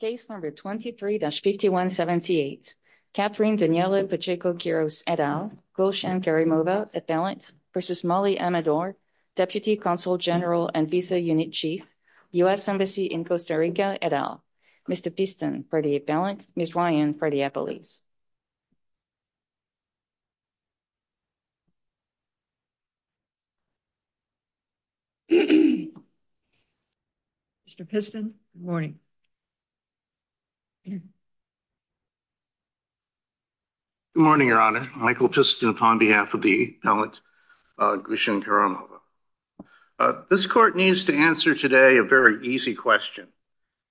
Case number 23-5178. Catherine Daniele Pacheco Quiros, et al. Gulshan Karimova, appellant, versus Molly Amador, Deputy Consul General and Visa Unit Chief, U.S. Embassy in Costa Rica, et al. Mr. Piston, for the appellant. Ms. Ryan, for the appellees. Mr. Piston, good morning. Good morning, Your Honor. Michael Piston upon behalf of the appellant, Gulshan Karimova. This court needs to answer today a very easy question.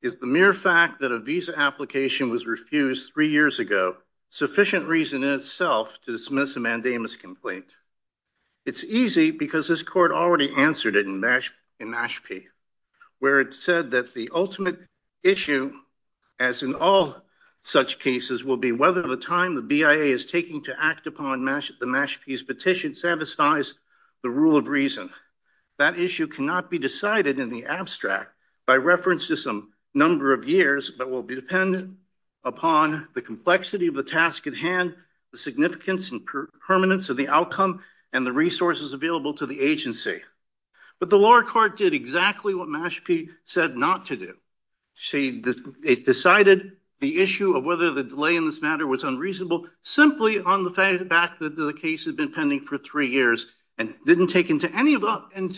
Is the mere fact that a visa application was refused three years ago sufficient reason in itself to dismiss a mandamus complaint? It's easy because this court already answered it in Mashpee, where it said that the ultimate issue, as in all such cases, will be whether the time the BIA is taking to act upon the Mashpee's petition satisfies the rule of reason. That issue cannot be decided in the abstract by reference to some number of years, but will depend upon the complexity of the task at hand, the significance and permanence of the outcome, and the resources available to the agency. But the lower court did exactly what Mashpee said not to do. It decided the issue of whether the delay in this matter was unreasonable simply on the fact that the case had been pending for three years and didn't take into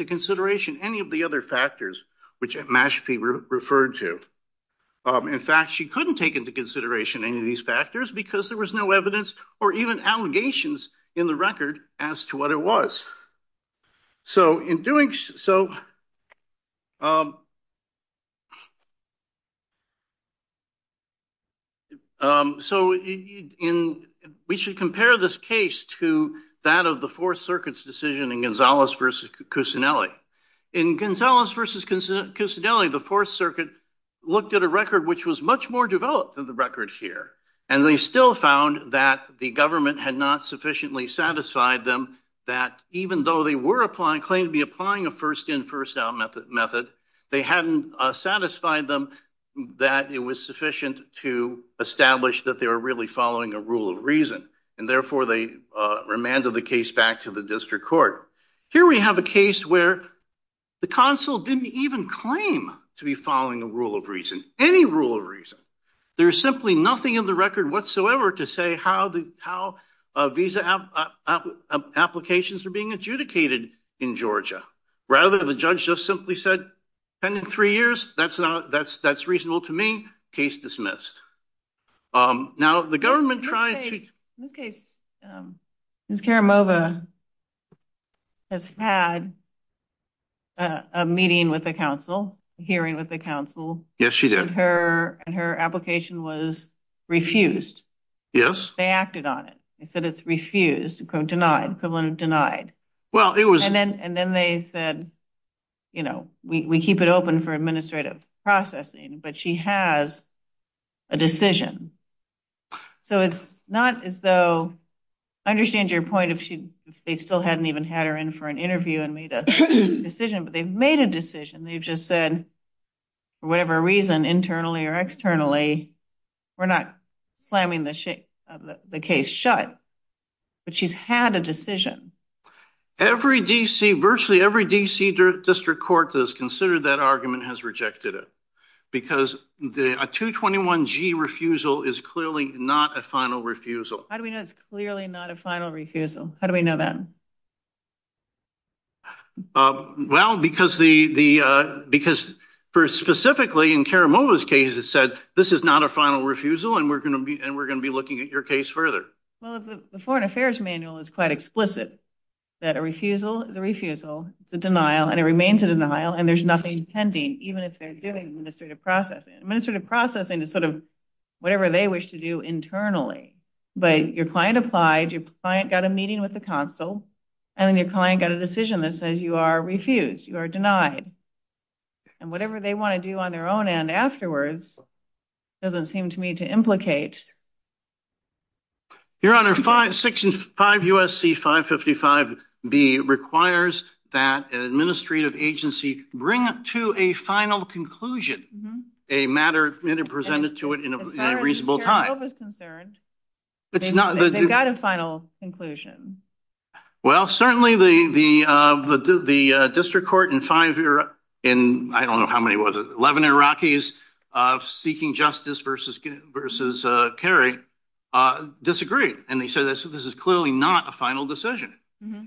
consideration any of the other factors, which Mashpee referred to. In fact, she couldn't take into consideration any of these factors because there was no evidence or even allegations in the record as to what it was. So in doing so we should compare this case to that of the Fourth Circuit's decision in Gonzales versus Cusinelli. In Gonzales versus Cusinelli, the Fourth Circuit looked at a record which was much more developed than the record here, and they still found that the government had not sufficiently satisfied them that even though they were claiming to be applying a first-in, first-out method, they hadn't satisfied them that it was sufficient to establish that they were really following a rule of reason, and therefore they remanded the case back to the district court. Here we have a case where the consul didn't even claim to be following a rule of reason, any rule of reason. There is simply nothing in the record whatsoever to say how visa applications are being adjudicated in Georgia. Rather, the judge just simply said, pending three years, that's reasonable to me. Case dismissed. In this case, Ms. Karamova has had a meeting with the consul, a hearing with the consul. Yes, she did. And her application was refused. Yes. They acted on it. They said it's refused, denied, equivalent of denied. And then they said, you know, we keep it open for administrative processing, but she has a decision. So it's not as though, I understand your point, if they still hadn't even had her in for an interview and made a decision, but they've made a decision. They've just said, for whatever reason, internally or externally, we're not slamming the case shut. But she's had a decision. Every D.C., virtually every D.C. district court that has considered that argument has rejected it. Because a 221G refusal is clearly not a final refusal. How do we know it's clearly not a final refusal? How do we know that? Well, because specifically in Karamova's case, it said, this is not a final refusal and we're going to be looking at your case further. Well, the Foreign Affairs Manual is quite explicit that a refusal is a refusal, it's a denial, and it remains a denial, and there's nothing pending, even if they're doing administrative processing. Administrative processing is sort of whatever they wish to do internally. But your client applied, your client got a meeting with the consul, and then your client got a decision that says you are refused, you are denied. And whatever they want to do on their own end afterwards doesn't seem to me to implicate. Your Honor, Section 5 U.S.C. 555B requires that an administrative agency bring to a final conclusion a matter presented to it in a reasonable time. As far as Karamova's concerned, they've got a final conclusion. Well, certainly the district court in five, I don't know how many was it, 11 Iraqis seeking justice versus Kerry disagreed, and they said this is clearly not a final decision.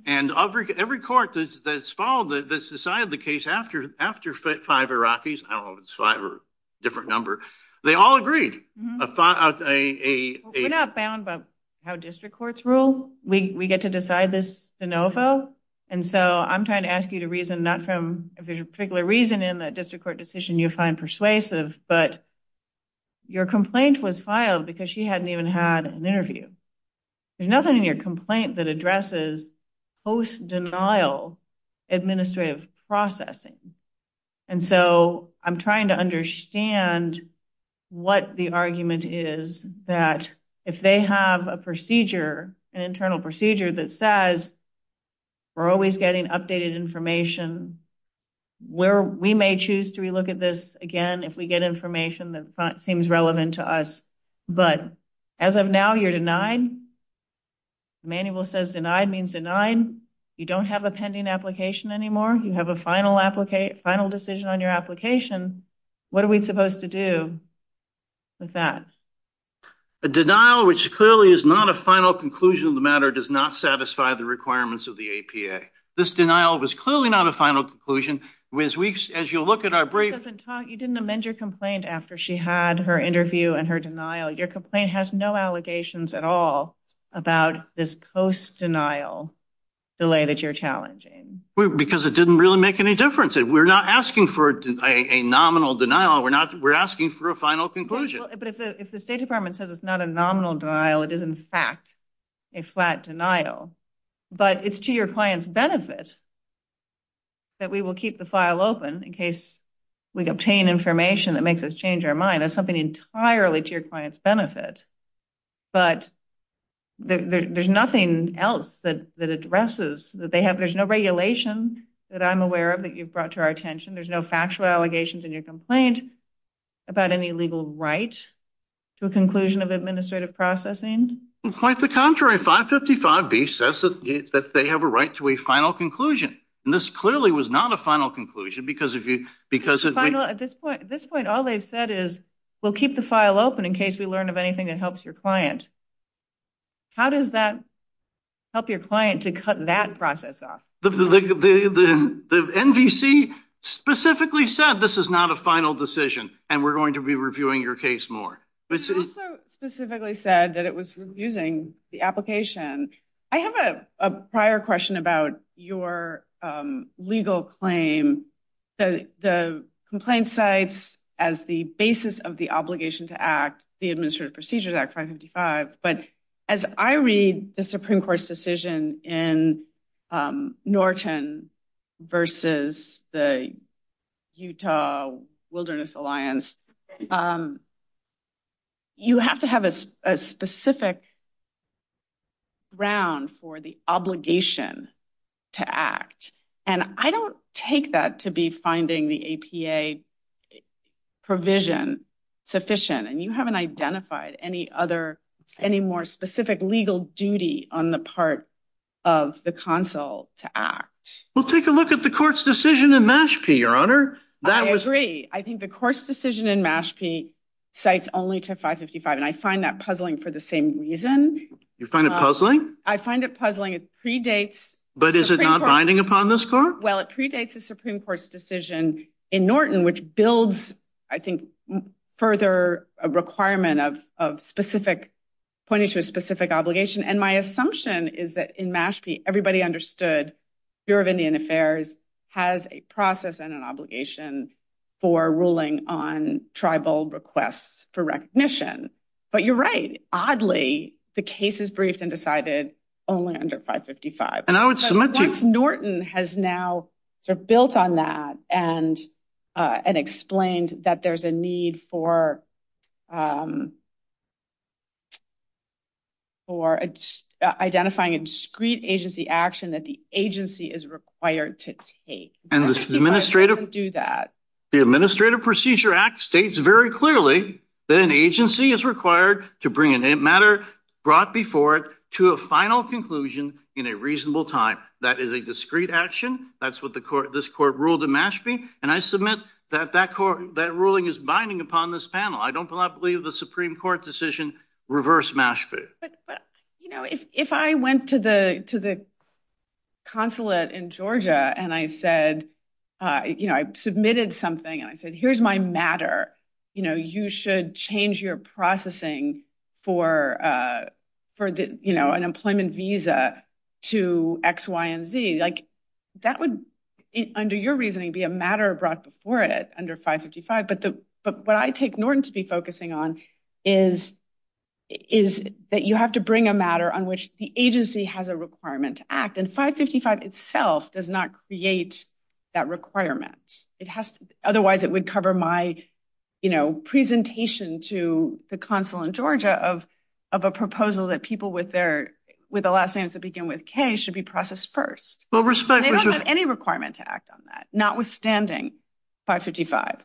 And every court that's followed, that's decided the case after five Iraqis, I don't know if it's five or a different number, they all agreed. We're not bound by how district courts rule. We get to decide this de novo. And so I'm trying to ask you to reason not from if there's a particular reason in that district court decision you find persuasive, but your complaint was filed because she hadn't even had an interview. There's nothing in your complaint that addresses post-denial administrative processing. And so I'm trying to understand what the argument is that if they have a procedure, an internal procedure that says we're always getting updated information where we may choose to relook at this again if we get information that seems relevant to us. But as of now, you're denied. The manual says denied means denied. You don't have a pending application anymore. You have a final decision on your application. What are we supposed to do with that? A denial which clearly is not a final conclusion of the matter does not satisfy the requirements of the APA. This denial was clearly not a final conclusion. As you look at our briefs. You didn't amend your complaint after she had her interview and her denial. Your complaint has no allegations at all about this post-denial delay that you're challenging. Because it didn't really make any difference. We're not asking for a nominal denial. We're asking for a final conclusion. But if the State Department says it's not a nominal denial, it is in fact a flat denial. But it's to your client's benefit that we will keep the file open in case we obtain information that makes us change our mind. That's something entirely to your client's benefit. But there's nothing else that addresses that they have. There's no regulation that I'm aware of that you've brought to our attention. There's no factual allegations in your complaint about any legal right to a conclusion of administrative processing. Quite the contrary. 555B says that they have a right to a final conclusion. And this clearly was not a final conclusion. At this point, all they've said is we'll keep the file open in case we learn of anything that helps your client. How does that help your client to cut that process off? The NVC specifically said this is not a final decision. And we're going to be reviewing your case more. It also specifically said that it was reviewing the application. I have a prior question about your legal claim. The complaint cites as the basis of the obligation to act, the Administrative Procedures Act 555. But as I read the Supreme Court's decision in Norton versus the Utah Wilderness Alliance, you have to have a specific ground for the obligation to act. And I don't take that to be finding the APA provision sufficient. And you haven't identified any other, any more specific legal duty on the part of the consul to act. Well, take a look at the court's decision in Mashpee, Your Honor. I agree. I think the court's decision in Mashpee cites only to 555. And I find that puzzling for the same reason. You find it puzzling? I find it puzzling. It predates. But is it not binding upon this court? Well, it predates the Supreme Court's decision in Norton, which builds I think further a requirement of specific, pointing to a specific obligation. And my assumption is that in Mashpee, everybody understood, the Bureau of Indian Affairs has a process and an obligation for ruling on tribal requests for recognition. But you're right. Oddly, the case is briefed and decided only under 555. And once Norton has now built on that and explained that there's a need for identifying a discreet agency action that the agency is required to take. And the Administrative Procedure Act states very clearly that an agency is required to bring a matter brought before it to a final conclusion in a reasonable time. That is a discreet action. That's what this court ruled in Mashpee. And I submit that that ruling is binding upon this panel. I do not believe the Supreme Court decision reversed Mashpee. But, you know, if I went to the consulate in Georgia and I said, you know, I submitted something and I said, here's my matter. You know, you should change your processing for, you know, an employment visa to X, Y, and Z. Like that would, under your reasoning, be a matter brought before it under 555. But what I take Norton to be focusing on is that you have to bring a matter on which the agency has a requirement to act. And 555 itself does not create that requirement. Otherwise it would cover my, you know, presentation to the consulate in Georgia of a proposal that people with their last names that begin with K should be processed first. They don't have any requirement to act on that, notwithstanding 555.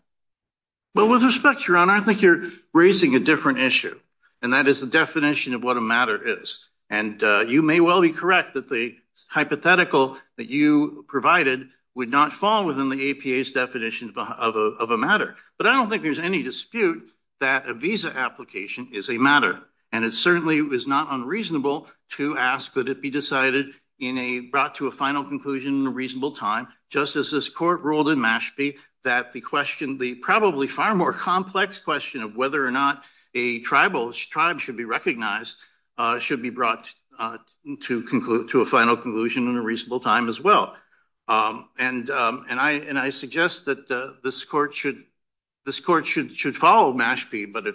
Well, with respect, Your Honor, I think you're raising a different issue. And that is the definition of what a matter is. And you may well be correct that the hypothetical that you provided would not fall within the APA's definition of a matter. But I don't think there's any dispute that a visa application is a matter. And it certainly is not unreasonable to ask that it be decided in a, brought to a final conclusion in a reasonable time, just as this court ruled in Mashpee that the question, the probably far more complex question of whether or not a tribal tribe should be recognized, should be brought to a final conclusion in a reasonable time as well. And I suggest that this court should follow Mashpee. But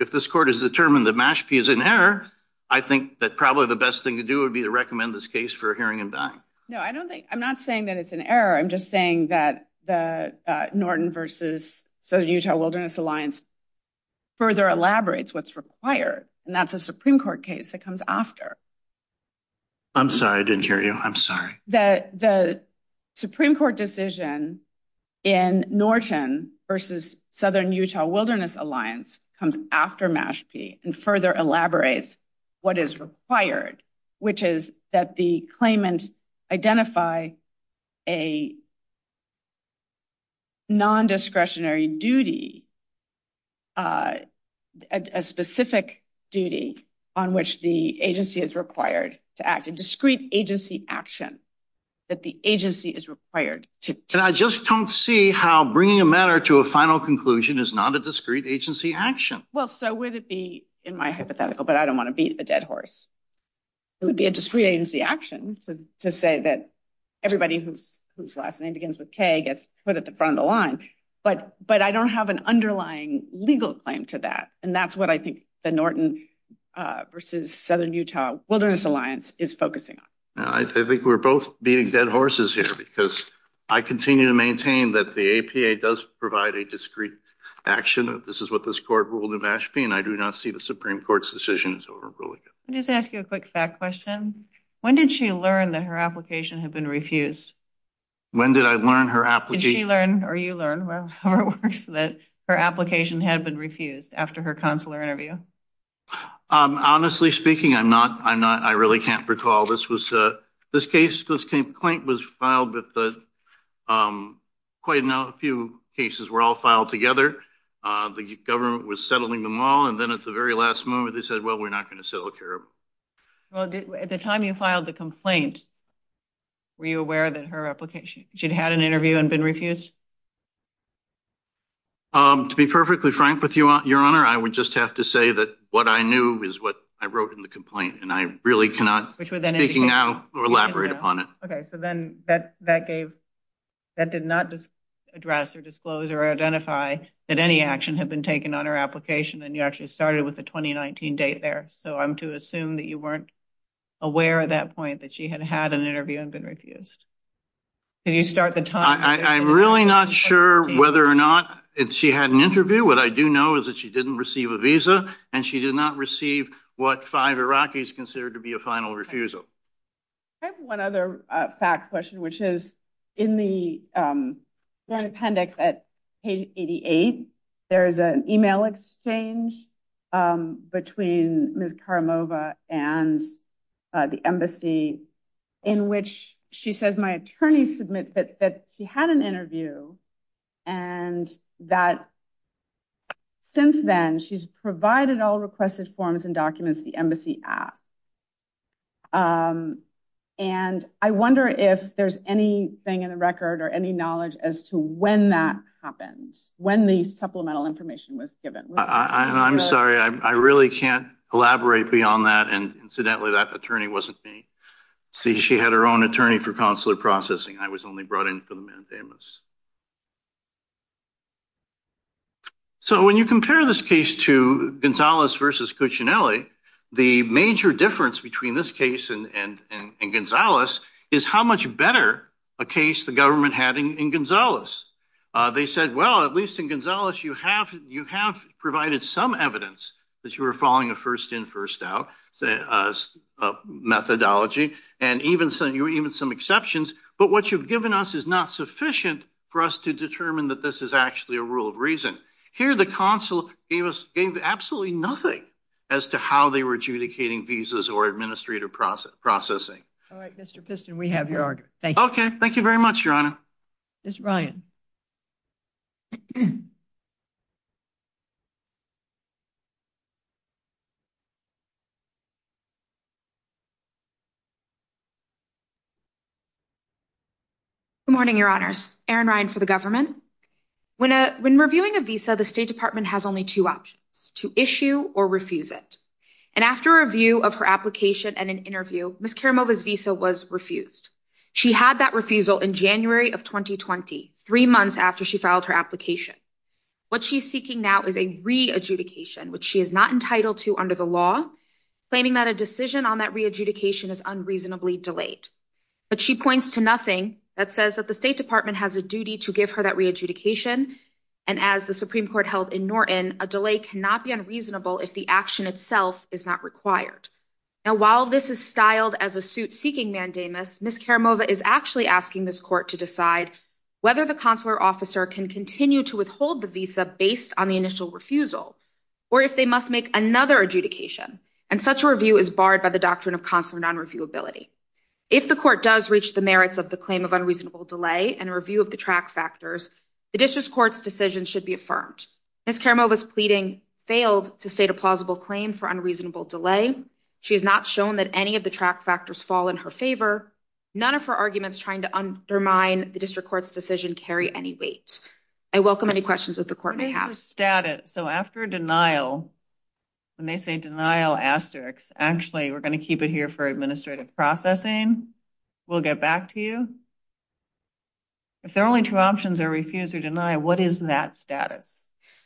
if this court has determined that Mashpee is in error, I think that probably the best thing to do would be to recommend this case for hearing and buying. No, I don't think, I'm not saying that it's an error. I'm just saying that the Norton versus Southern Utah Wilderness Alliance further elaborates what's required. And that's a Supreme Court case that comes after. I'm sorry, I didn't hear you. I'm sorry. The Supreme Court decision in Norton versus Southern Utah Wilderness Alliance comes after Mashpee and further elaborates what is required, which is that the claimant identify a non-discretionary duty, a specific duty on which the agency is required to act, a discrete agency action that the agency is required to. And I just don't see how bringing a matter to a final conclusion is not a discrete agency action. Well, so would it be in my hypothetical, but I don't want to beat a dead horse. It would be a discreet agency action to say that everybody who's, whose last name begins with K gets put at the front of the line, but, but I don't have an underlying legal claim to that. And that's what I think the Norton versus Southern Utah Wilderness Alliance is focusing on. I think we're both beating dead horses here because I continue to maintain that the APA does provide a discreet action. This is what this court ruled in Mashpee. And I do not see the Supreme Court's decision. So we're really good. Let me just ask you a quick fact question. When did she learn that her application had been refused? When did I learn her application? Did she learn or you learn that her application had been refused after her consular interview? Honestly speaking, I'm not, I'm not, I really can't recall this was a, this case, this complaint was filed with quite a few cases were all filed together. The government was settling them all. And then at the very last moment, they said, well, we're not going to settle care. Well, at the time you filed the complaint, were you aware that her application, she'd had an interview and been refused? To be perfectly frank with you, your honor, I would just have to say that what I knew is what I wrote in the complaint. And I really cannot speak now or elaborate upon it. Okay. So then that, that gave, that did not address or disclose or identify that any action had been taken on her application. And you actually started with the 2019 date there. So I'm to assume that you weren't aware of that point, that she had had an interview and been refused. Did you start the time? I'm really not sure whether or not she had an interview. What I do know is that she didn't receive a visa and she did not receive what five Iraqis considered to be a final refusal. I have one other fact question, which is in the appendix at page 88, there's an email exchange between Ms. Karamova and the embassy in which she says, my attorney submit that he had an interview and that since then she's not received a visa. And I'm wondering if there's anything in the record or any knowledge as to when that happened, when the supplemental information was given. I'm sorry. I really can't elaborate beyond that. And incidentally, that attorney wasn't me. See, she had her own attorney for consular processing. I was only brought in for the mandamus. So when you compare this case to Gonzalez versus Cuccinelli, the major difference between this case and Gonzalez is how much better a case the government had in Gonzalez. They said, well, at least in Gonzalez, you have provided some evidence that you were following a first in, first out methodology and even some exceptions. But what you've given us is not sufficient for us to determine that this is actually a rule of reason. Here, the consul gave us absolutely nothing as to how they were adjudicating visas or administrative processing. All right, Mr. Piston, we have your argument. Okay. Thank you very much, Your Honor. Mr. Ryan. Good morning, Your Honors. Erin Ryan for the government. When reviewing a visa, the State Department has only two options, to issue or refuse it. And after a review of her application and an interview, Ms. Karamova's visa was refused. She had that refusal in January of 2020, three months after she filed her application. What she's seeking now is a re-adjudication, which she is not entitled to under the law, claiming that a decision on that re-adjudication is unreasonably delayed. But she points to nothing that says that the State Department has a duty to give her that re-adjudication. And as the Supreme Court held in Norton, a delay cannot be unreasonable if the action itself is not required. Now, while this is styled as a suit seeking mandamus, Ms. Karamova is actually asking this court to decide whether the consular officer can continue to withhold the visa based on the initial refusal, or if they must make another adjudication. And such a review is barred by the doctrine of consular non-reviewability. If the court does reach the merits of the claim of unreasonable delay and a lack of track factors, the district court's decision should be affirmed. Ms. Karamova's pleading failed to state a plausible claim for unreasonable delay. She has not shown that any of the track factors fall in her favor. None of her arguments trying to undermine the district court's decision carry any weight. I welcome any questions that the court may have. So after denial, when they say denial asterisks, actually we're going to keep it here for administrative processing. We'll get back to you. If there are only two options, or refuse or deny, what is that status?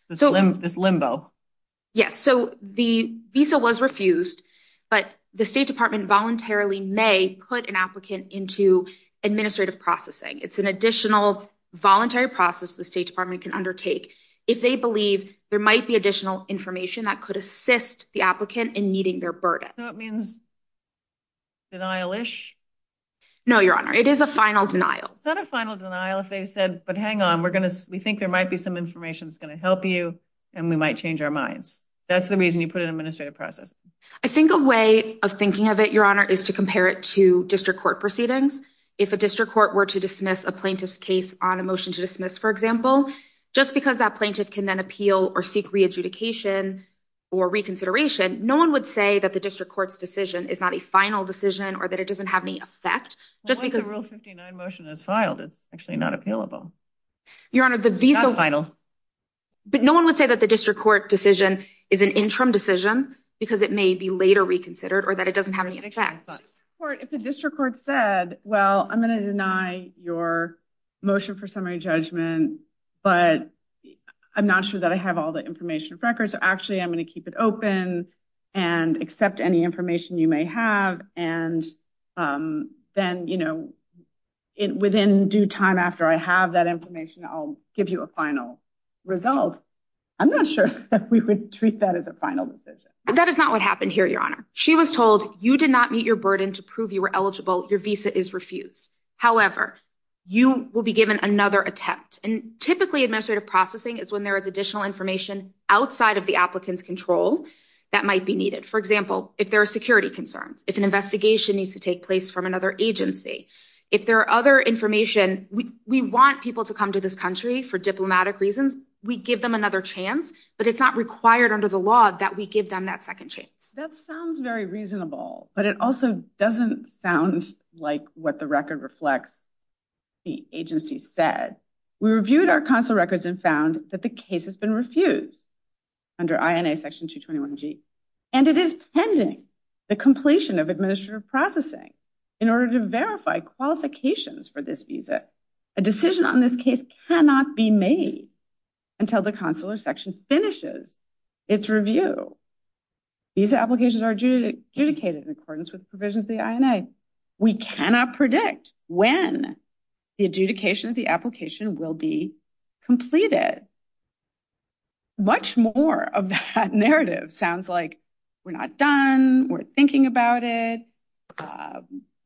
This limbo? Yes. So the visa was refused, but the state department voluntarily may put an applicant into administrative processing. It's an additional voluntary process. The state department can undertake if they believe there might be additional information that could assist the applicant in meeting their burden. So it means denial-ish? No, your honor. It is a final denial. It's not a final denial. If they said, but hang on, we're going to, we think there might be some information that's going to help you and we might change our minds. That's the reason you put an administrative process. I think a way of thinking of it, your honor, is to compare it to district court proceedings. If a district court were to dismiss a plaintiff's case on a motion to dismiss, for example, just because that plaintiff can then appeal or seek re-adjudication or reconsideration, no one would say that the district court's decision is not a final decision or that it doesn't have any effect. Once a rule 59 motion is filed, it's actually not appealable. Your honor, the visa final, but no one would say that the district court decision is an interim decision because it may be later reconsidered or that it doesn't have any effect. If the district court said, well, I'm going to deny your motion for summary judgment, but I'm not sure that I have all the information records. Actually, I'm going to keep it open and accept any information you may have. And then, you know, within due time after I have that information, I'll give you a final result. I'm not sure that we would treat that as a final decision. That is not what happened here. Your honor. She was told you did not meet your burden to prove you were eligible. Your visa is refused. However, you will be given another attempt and typically administrative processing is when there is additional information outside of the applicant's control that might be needed. For example, if there are security concerns, if an investigation needs to take place from another agency, if there are other information, we want people to come to this country for diplomatic reasons. We give them another chance, but it's not required under the law that we give them that second chance. That sounds very reasonable, but it also doesn't sound like what the record reflects. The agency said we reviewed our console records and found that the case has been refused under INA section 221 G. And it is pending the completion of administrative processing in order to verify qualifications for this visa. A decision on this case cannot be made until the consular section finishes its review. These applications are due to adjudicated in accordance with provisions of the INA. We cannot predict when the adjudication of the application will be completed. Much more of that narrative sounds like we're not done. We're thinking about it.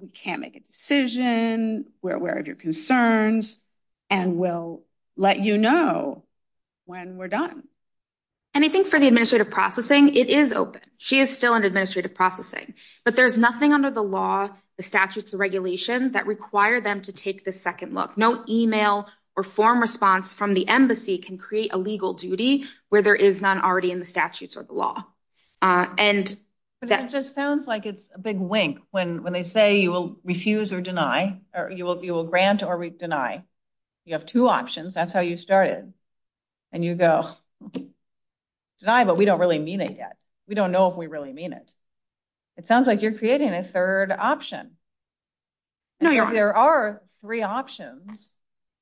We can't make a decision. We're aware of your concerns and we'll let you know when we're done. Anything for the administrative processing. It is open. She is still in administrative processing, but there's nothing under the law, the statutes of regulation that require them to take the second look, no email or form response from the embassy can create a legal duty where there is none already in the statutes or the law. And that just sounds like it's a big wink when, when they say you will refuse or deny, or you will, you will grant or deny. You have two options. That's how you started and you go deny, but we don't really mean it yet. We don't know if we really mean it. It sounds like you're creating a third option. If there are three options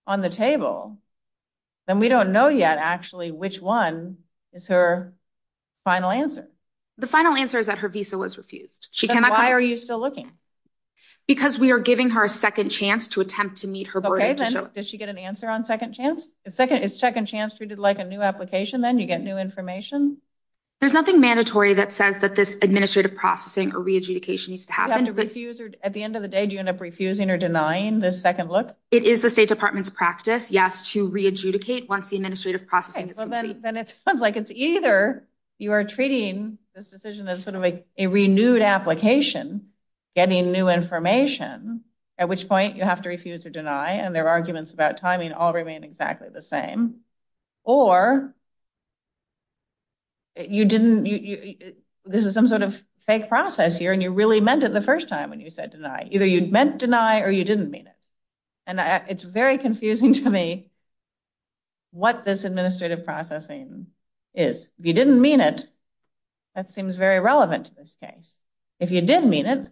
on the table, then we don't know yet actually, which one is her final answer. The final answer is that her visa was refused. Why are you still looking? Because we are giving her a second chance to attempt to meet her. Does she get an answer on second chance? Second is second chance treated like a new application. Then you get new information. There's nothing mandatory that says that this administrative processing or At the end of the day, do you end up refusing or denying the second look? It is the state department's practice. Yes. To re-adjudicate once the administrative processing is complete. Then it sounds like it's either you are treating this decision as sort of a, a renewed application, getting new information, at which point you have to refuse or deny. And their arguments about timing all remain exactly the same. Or you didn't, this is some sort of fake process here and you really meant it the first time when you said deny, either you'd meant deny or you didn't mean it. And it's very confusing to me. What this administrative processing is. If you didn't mean it, that seems very relevant to this case. If you didn't mean it,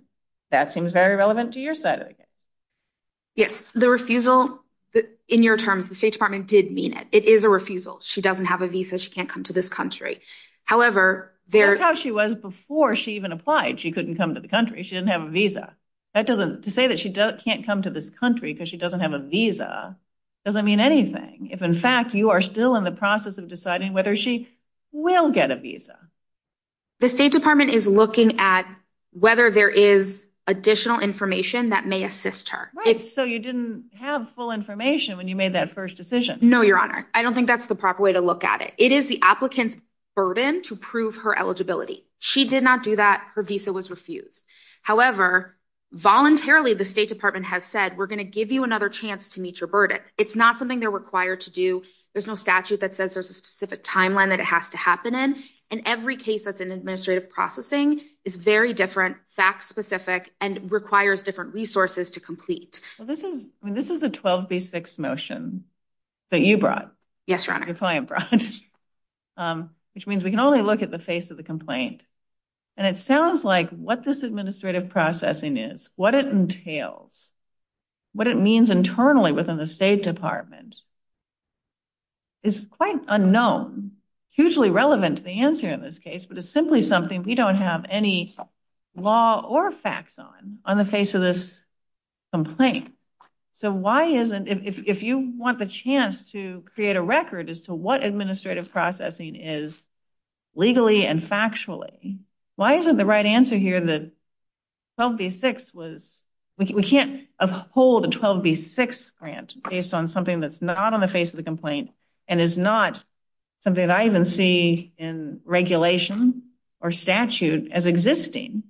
that seems very relevant to your side of the case. Yes. The refusal in your terms, the state department did mean it. It is a refusal. She doesn't have a visa. She can't come to this country. However, that's how she was before she even applied. She couldn't come to the country. She didn't have a visa. That doesn't to say that she can't come to this country because she doesn't have a visa. Doesn't mean anything. If in fact you are still in the process of deciding whether she will get a visa. The state department is looking at whether there is additional information that may assist her. So you didn't have full information when you made that first decision. No, Your Honor. I don't think that's the proper way to look at it. It is the applicant's burden to prove her eligibility. She did not do that. Her visa was refused. However, voluntarily the state department has said we're going to give you another chance to meet your burden. It's not something they're required to do. There's no statute that says there's a specific timeline that it has to happen in. And every case that's in administrative processing is very different, fact specific, and requires different resources to complete. This is a 12B6 motion that you brought. Yes, Your Honor. Which means we can only look at the face of the complaint. And it sounds like what this administrative processing is, what it entails, what it means internally within the state department is quite unknown. Hugely relevant to the answer in this case, but it's simply something we don't have any law or facts on on the face of this complaint. So why isn't, if you want the chance to create a record as to what administrative processing is legally and factually, why isn't the right answer here that 12B6 was, we can't uphold a 12B6 grant based on something that's not on the face of the complaint and is not something that I even see in regulation or statute as existing.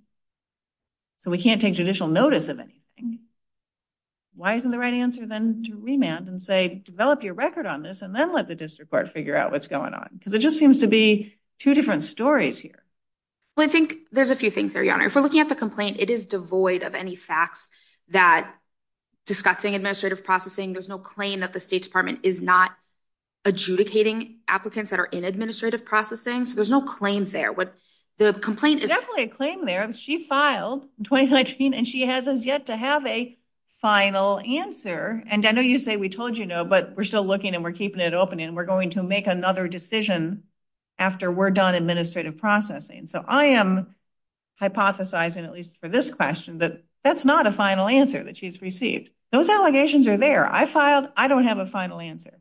So we can't take judicial notice of anything. Why isn't the right answer then to remand and say, develop your record on this and then let the district court figure out what's going on? Because it just seems to be two different stories here. Well, I think there's a few things there, Your Honor. If we're looking at the complaint, it is devoid of any facts that discussing administrative processing. There's no claim that the state department is not adjudicating applicants that are in administrative processing. So there's no claim there. There's definitely a claim there. She filed in 2019, and she has as yet to have a final answer. And I know you say we told you no, but we're still looking and we're keeping it open, and we're going to make another decision after we're done administrative processing. So I am hypothesizing, at least for this question, that that's not a final answer that she's received. Those allegations are there. I filed. I don't have a final answer.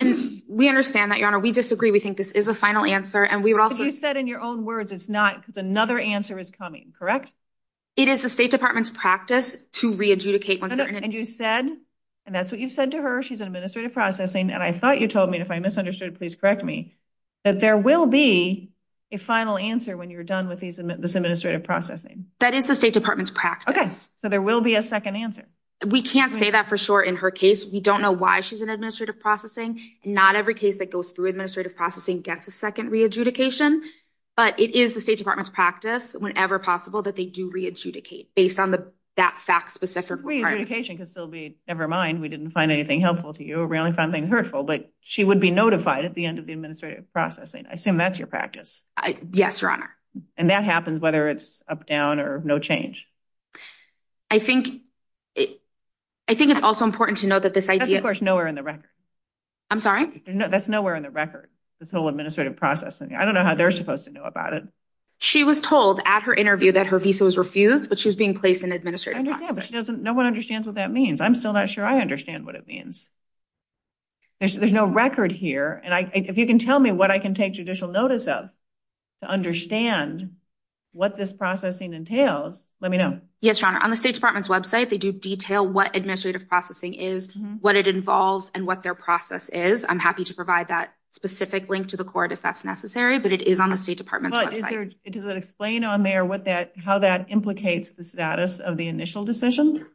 And we understand that, Your Honor. We disagree. We think this is a final answer. Because you said in your own words it's not because another answer is coming, correct? It is the state department's practice to re-adjudicate. And you said, and that's what you've said to her, she's in administrative processing, and I thought you told me, and if I misunderstood, please correct me, that there will be a final answer when you're done with this administrative processing. That is the state department's practice. Okay. So there will be a second answer. We can't say that for sure in her case. We don't know why she's in administrative processing. Not every case that goes through administrative processing gets a second re-adjudication. But it is the state department's practice, whenever possible, that they do re-adjudicate based on that fact-specific part. Re-adjudication could still be, never mind, we didn't find anything helpful to you. We only found things hurtful. But she would be notified at the end of the administrative processing. I assume that's your practice. Yes, Your Honor. And that happens whether it's up, down, or no change. I think it's also important to note that this idea – Of course, nowhere in the record. I'm sorry? That's nowhere in the record, this whole administrative processing. I don't know how they're supposed to know about it. She was told at her interview that her visa was refused, but she was being placed in administrative processing. No one understands what that means. I'm still not sure I understand what it means. There's no record here. And if you can tell me what I can take judicial notice of to understand what this processing entails, let me know. Yes, Your Honor. On the State Department's website, they do detail what administrative processing is, what it involves, and what their process is. I'm happy to provide that specific link to the court if that's necessary, but it is on the State Department's website. Does it explain on there how that implicates the status of the initial decision?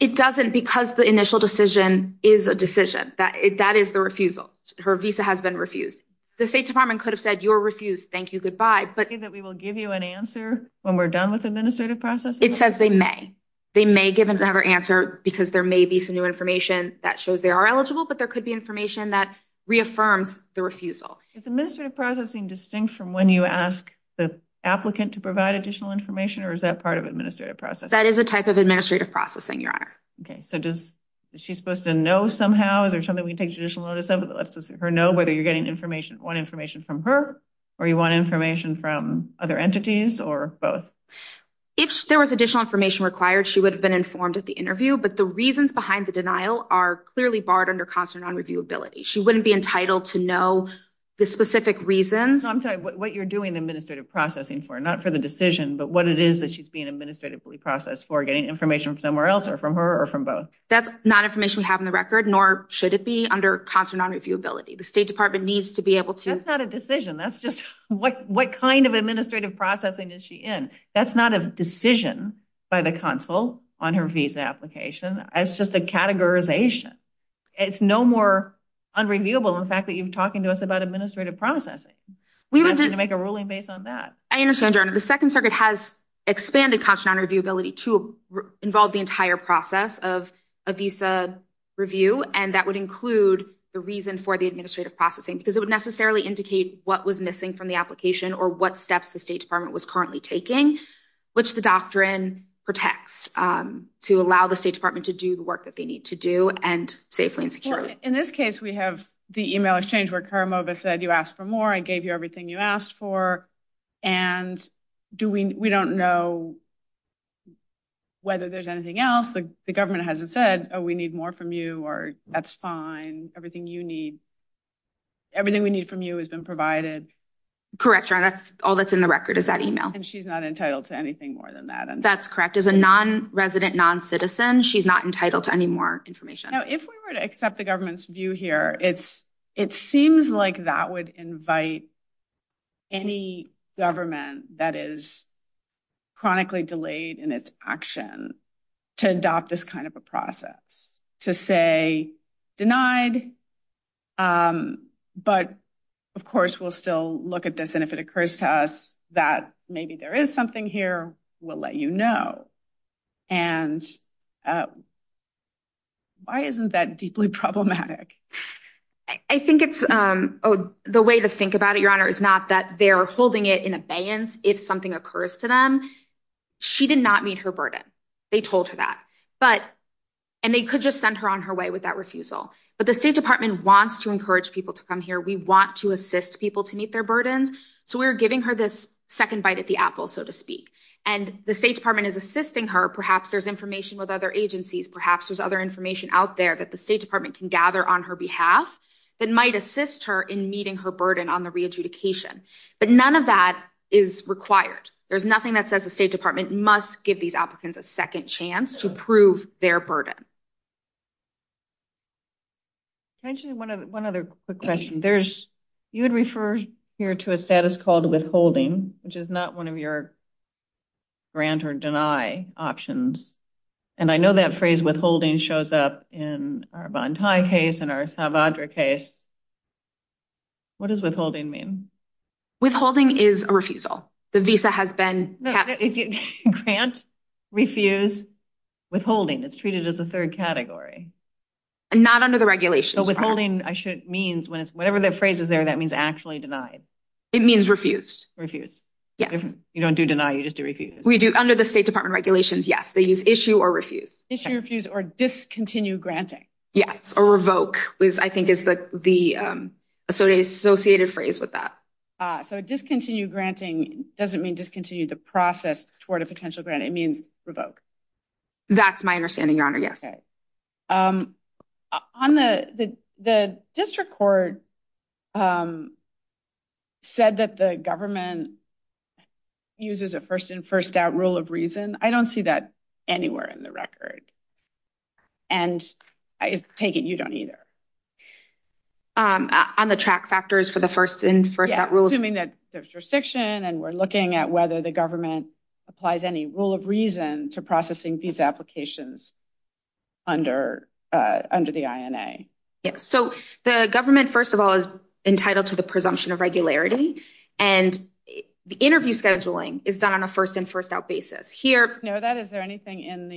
It doesn't because the initial decision is a decision. That is the refusal. Her visa has been refused. The State Department could have said, you're refused. Thank you. Goodbye. Does it say that we will give you an answer when we're done with administrative processing? It says they may. They may give another answer because there may be some new information that shows they are eligible, but there could be information that reaffirms the refusal. Is administrative processing distinct from when you ask the applicant to provide additional information, or is that part of administrative processing? That is a type of administrative processing, Your Honor. Okay. So is she supposed to know somehow? Is there something we can take judicial notice of that lets her know whether you want information from her or you want information from other entities or both? If there was additional information required, she would have been informed at the interview, but the reasons behind the denial are clearly barred under constant non-reviewability. She wouldn't be entitled to know the specific reasons. No, I'm sorry. What you're doing the administrative processing for, not for the decision, but what it is that she's being administratively processed for, getting information from somewhere else or from her or from both. That's not information we have on the record, nor should it be, under constant non-reviewability. The State Department needs to be able to. That's not a decision. That's just what kind of administrative processing is she in. That's not a decision by the consul on her visa application. It's just a categorization. It's no more unreviewable than the fact that you're talking to us about administrative processing. We would have to make a ruling based on that. I understand, Your Honor. The Second Circuit has expanded constant non-reviewability to involve the entire process of a visa review, and that would include the reason for the administrative processing because it would necessarily indicate what was missing from the application or what steps the State Department was currently taking, which the doctrine protects to allow the State Department to do the work that they need to do, and safely and securely. In this case, we have the email exchange where Karamova said, you asked for more, I gave you everything you asked for, and we don't know whether there's anything else. The government hasn't said, oh, we need more from you, or that's fine, everything you need, everything we need from you has been provided. Correct, Your Honor. All that's in the record is that email. And she's not entitled to anything more than that. That's correct. As a non-resident, non-citizen, she's not entitled to any more information. Now, if we were to accept the government's view here, it seems like that would invite any government that is chronically delayed in its action to adopt this kind of a process, to say denied, but of course we'll still look at this, and if it occurs to us that maybe there is something here, we'll let you know. And why isn't that deeply problematic? I think it's the way to think about it, Your Honor, is not that they're holding it in abeyance if something occurs to them. She did not meet her burden. They told her that. And they could just send her on her way with that refusal. But the State Department wants to encourage people to come here. We want to assist people to meet their burdens. So we're giving her this second bite at the apple, so to speak. And the State Department is assisting her. Perhaps there's information with other agencies. Perhaps there's other information out there that the State Department can gather on her behalf that might assist her in meeting her burden on the re-adjudication. But none of that is required. There's nothing that says the State Department must give these applicants a second chance to prove their burden. Can I ask you one other quick question? You had referred here to a status called withholding, which is not one of your grant or deny options. And I know that phrase withholding shows up in our Bontai case and our Salvador case. What does withholding mean? Withholding is a refusal. The visa has been kept. Grant, refuse, withholding. It's treated as a third category. Not under the regulations. Withholding means, whatever the phrase is there, that means actually denied. It means refused. Refused. You don't do deny, you just do refuse. Under the State Department regulations, yes, they use issue or refuse. Issue, refuse, or discontinue granting. Yes, or revoke, I think is the associated phrase with that. So discontinue granting doesn't mean discontinue the process toward a potential grant. It means revoke. That's my understanding, Your Honor, yes. Okay. The district court said that the government uses a first-in, first-out rule of reason. I don't see that anywhere in the record. And I take it you don't either. On the track factors for the first-in, first-out rule. Assuming that there's jurisdiction and we're looking at whether the government applies any rule of reason to processing visa applications under the INA. So the government, first of all, is entitled to the presumption of regularity. And the interview scheduling is done on a first-in, first-out basis. Is there anything in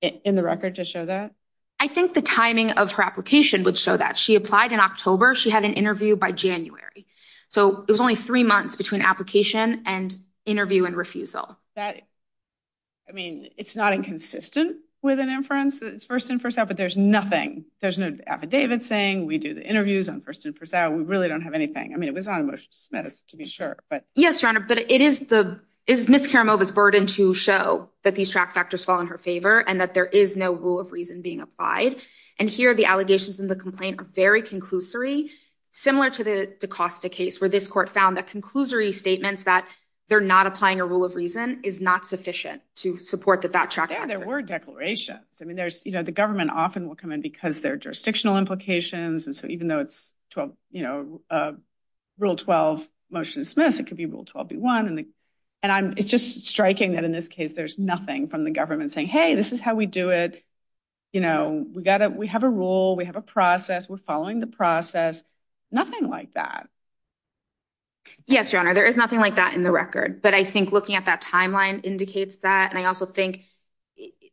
the record to show that? I think the timing of her application would show that. She applied in October. She had an interview by January. So it was only three months between application and interview and refusal. I mean, it's not inconsistent with an inference that it's first-in, first-out, but there's nothing. There's no affidavit saying we do the interviews on first-in, first-out. We really don't have anything. I mean, it was on a motion to dismiss, to be sure. Yes, Your Honor, but it is Ms. Karamova's burden to show that these track factors fall in her favor and that there is no rule of reason being applied. And here the allegations in the complaint are very conclusory, similar to the DaCosta case where this court found that conclusory statements that they're not applying a rule of reason is not sufficient to support that that track factor. There were declarations. I mean, there's, you know, the government often will come in because there are jurisdictional implications. And so even though it's, you know, Rule 12 motion dismissed, it could be Rule 12B1. And it's just striking that in this case there's nothing from the government saying, hey, this is how we do it. You know, we have a rule. We have a process. We're following the process. Nothing like that. Yes, Your Honor, there is nothing like that in the record. But I think looking at that timeline indicates that. And I also think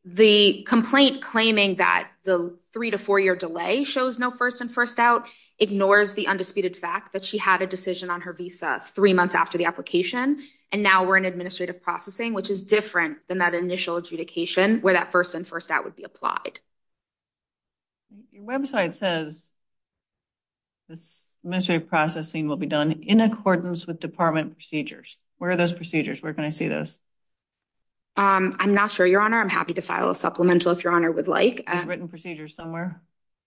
the complaint claiming that the three to four year delay shows no first in first out ignores the undisputed fact that she had a decision on her visa three months after the application. And now we're in administrative processing, which is different than that initial adjudication where that first in first out would be applied. Your website says. This administrative processing will be done in accordance with department procedures. Where are those procedures? Where can I see those? I'm not sure, Your Honor. I'm happy to file a supplemental if Your Honor would like written procedures somewhere.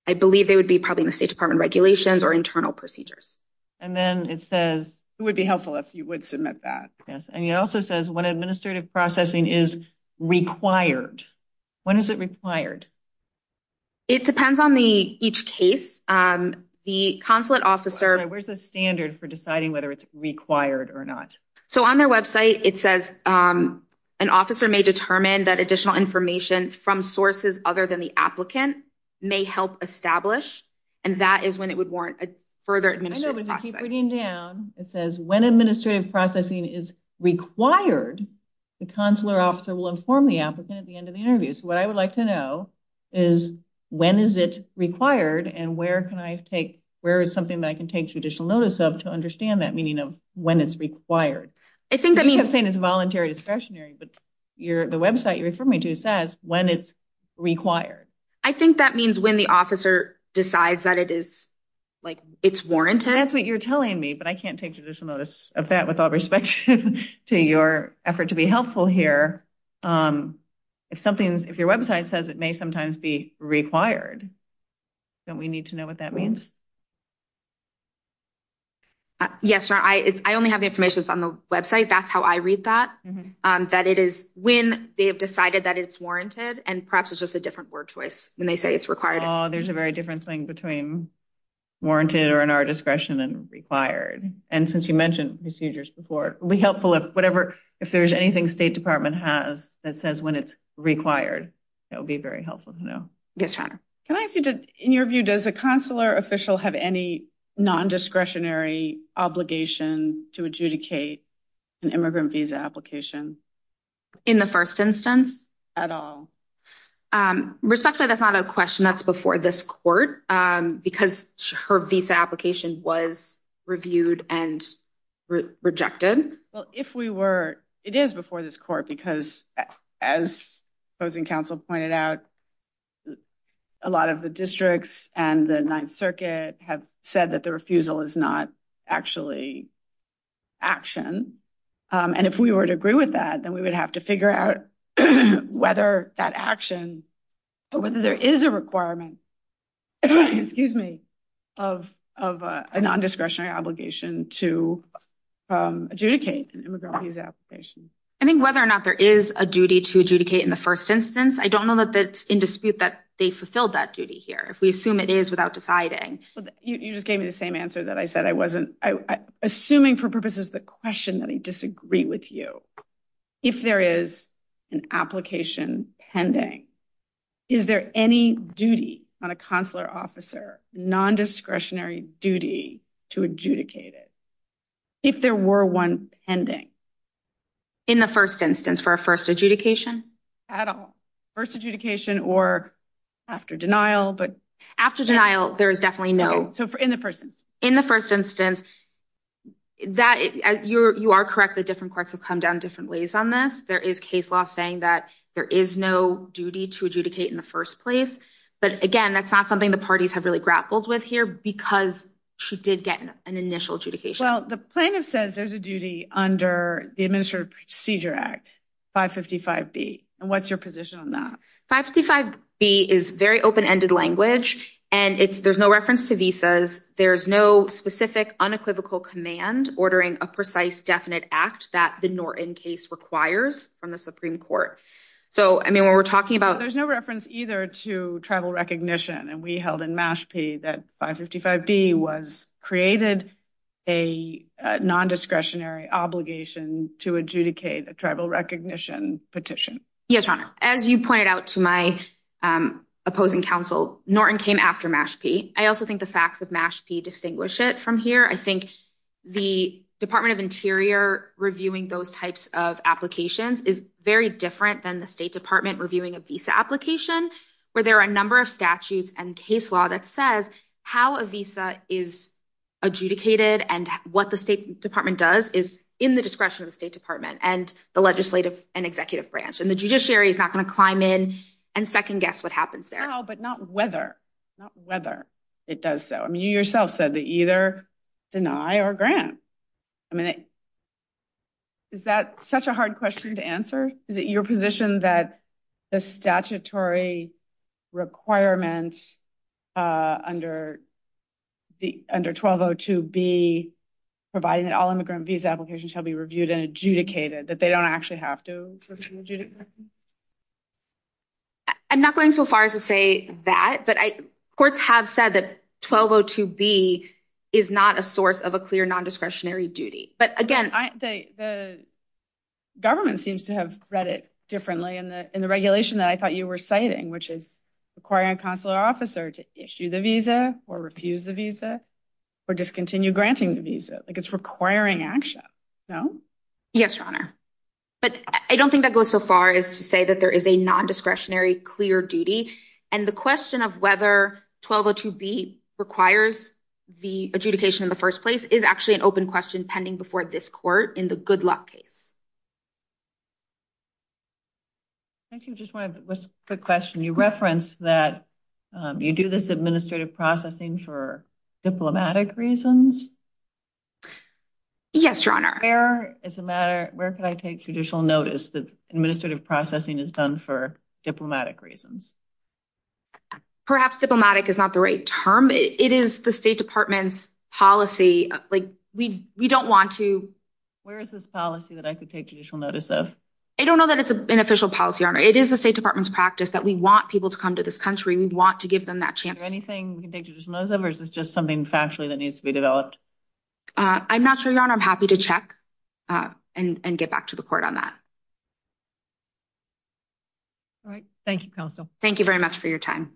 I believe they would be probably in the State Department regulations or internal procedures. And then it says it would be helpful if you would submit that. Yes. And it also says when administrative processing is required. When is it required? It depends on the each case. The consulate officer. Where's the standard for deciding whether it's required or not? So on their website, it says an officer may determine that additional information from sources other than the applicant may help establish. And that is when it would warrant a further administrative process. It says when administrative processing is required. The consular officer will inform the applicant at the end of the interview. So what I would like to know is when is it required? And where can I take where is something that I can take judicial notice of to understand that meaning of when it's required? I think I mean, I'm saying it's voluntary discretionary, but you're the website you refer me to says when it's required. I think that means when the officer decides that it is like it's warranted. That's what you're telling me. But I can't take judicial notice of that with all respect to your effort to be helpful here. If something is if your website says it may sometimes be required. Don't we need to know what that means? Yes. I only have the information on the website. That's how I read that. That it is when they have decided that it's warranted. And perhaps it's just a different word choice when they say it's required. There's a very different thing between warranted or in our discretion and required. And since you mentioned procedures before, it will be helpful if whatever if there's anything State Department has that says when it's required, it will be very helpful to know. In your view, does a consular official have any non-discretionary obligation to adjudicate an immigrant visa application in the first instance at all? Respectfully, that's not a question that's before this court because her visa application was reviewed and rejected. Well, if we were, it is before this court, because as opposing counsel pointed out, a lot of the districts and the Ninth Circuit have said that the refusal is not actually action. And if we were to agree with that, then we would have to figure out whether that action or whether there is a requirement, excuse me, of a non-discretionary obligation to adjudicate an immigrant visa application. I think whether or not there is a duty to adjudicate in the first instance, I don't know that it's in dispute that they fulfilled that duty here. If we assume it is without deciding. You just gave me the same answer that I said I wasn't assuming for purposes of the question that I disagree with you. If there is an application pending, is there any duty on a consular officer non-discretionary duty to adjudicate it? If there were one pending. In the first instance for a first adjudication? At all. First adjudication or after denial. After denial, there is definitely no. So in the first instance. In the first instance, you are correct that different courts have come down different ways on this. There is case law saying that there is no duty to adjudicate in the first place. But again, that's not something the parties have really grappled with here because she did get an initial adjudication. Well, the plaintiff says there's a duty under the Administrative Procedure Act, 555B. And what's your position on that? 555B is very open-ended language. And there's no reference to visas. There's no specific unequivocal command ordering a precise definite act that the Norton case requires from the Supreme Court. So, I mean, when we're talking about. There's no reference either to tribal recognition. And we held in Mashpee that 555B was created a non-discretionary obligation to adjudicate a tribal recognition petition. Yes, Your Honor. As you pointed out to my opposing counsel, Norton came after Mashpee. I also think the facts of Mashpee distinguish it from here. I think the Department of Interior reviewing those types of applications is very different than the State Department reviewing a visa application. Where there are a number of statutes and case law that says how a visa is adjudicated. And what the State Department does is in the discretion of the State Department and the legislative and executive branch. And the judiciary is not going to climb in and second-guess what happens there. No, but not whether. Not whether it does so. I mean, you yourself said that either deny or grant. Is it your position that the statutory requirement under 1202B providing that all immigrant visa applications shall be reviewed and adjudicated? That they don't actually have to? I'm not going so far as to say that. But courts have said that 1202B is not a source of a clear non-discretionary duty. The government seems to have read it differently in the regulation that I thought you were citing. Which is requiring a consular officer to issue the visa or refuse the visa or discontinue granting the visa. It's requiring action, no? Yes, Your Honor. But I don't think that goes so far as to say that there is a non-discretionary clear duty. And the question of whether 1202B requires the adjudication in the first place is actually an open question pending before this court in the good luck case. Thank you. Just one quick question. You referenced that you do this administrative processing for diplomatic reasons. Yes, Your Honor. Where could I take judicial notice that administrative processing is done for diplomatic reasons? Perhaps diplomatic is not the right term. It is the State Department's policy. We don't want to. Where is this policy that I could take judicial notice of? I don't know that it's an official policy, Your Honor. It is the State Department's practice that we want people to come to this country. We want to give them that chance. Is there anything we can take judicial notice of or is this just something factually that needs to be developed? I'm not sure, Your Honor. I'm happy to check and get back to the court on that. All right. Thank you, Counsel. Thank you very much for your time.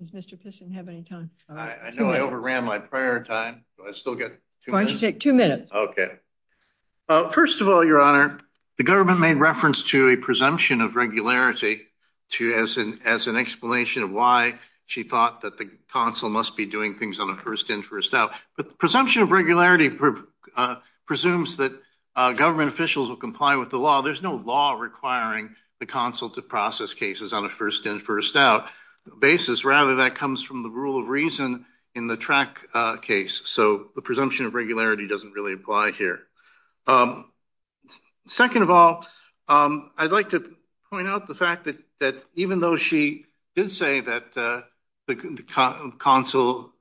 Does Mr. Piston have any time? I know I overran my prior time. Do I still get two minutes? Why don't you take two minutes? Okay. First of all, Your Honor, the government made reference to a presumption of regularity as an explanation of why she thought that the consul must be doing things on a first in, first out. But the presumption of regularity presumes that government officials will comply with the law. There's no law requiring the consul to process cases on a first in, first out basis. Rather, that comes from the rule of reason in the track case. So the presumption of regularity doesn't really apply here. Second of all, I'd like to point out the fact that even though she did say that the consul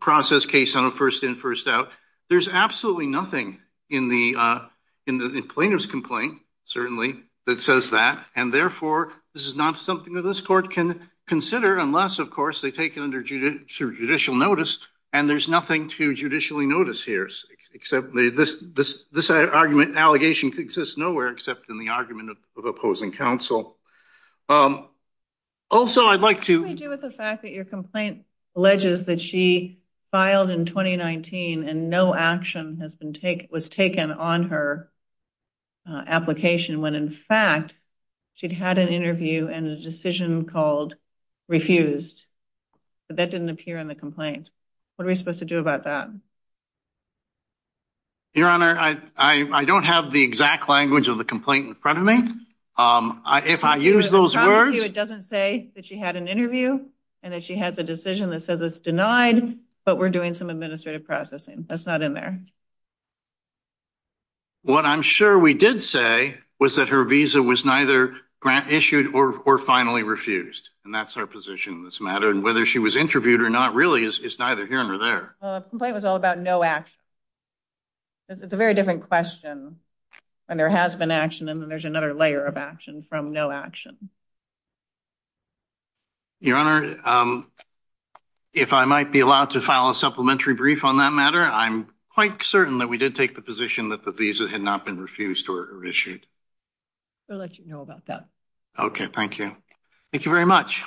processed case on a first in, first out, there's absolutely nothing in the plaintiff's complaint, certainly, that says that. And therefore, this is not something that this court can consider unless, of course, they take it under judicial notice. And there's nothing to judicially notice here, except this argument and allegation exists nowhere except in the argument of opposing counsel. Also, I'd like to... What do we do with the fact that your complaint alleges that she filed in 2019 and no action was taken on her application, when, in fact, she'd had an interview and a decision called refused, but that didn't appear in the complaint? What are we supposed to do about that? Your Honor, I don't have the exact language of the complaint in front of me. If I use those words... It doesn't say that she had an interview and that she has a decision that says it's denied, but we're doing some administrative processing. That's not in there. What I'm sure we did say was that her visa was neither grant issued or finally refused, and that's her position in this matter. And whether she was interviewed or not really is neither here nor there. The complaint was all about no action. It's a very different question when there has been action and then there's another layer of action from no action. Your Honor, if I might be allowed to file a supplementary brief on that matter, I'm quite certain that we did take the position that the visa had not been refused or issued. We'll let you know about that. Okay, thank you. Thank you very much.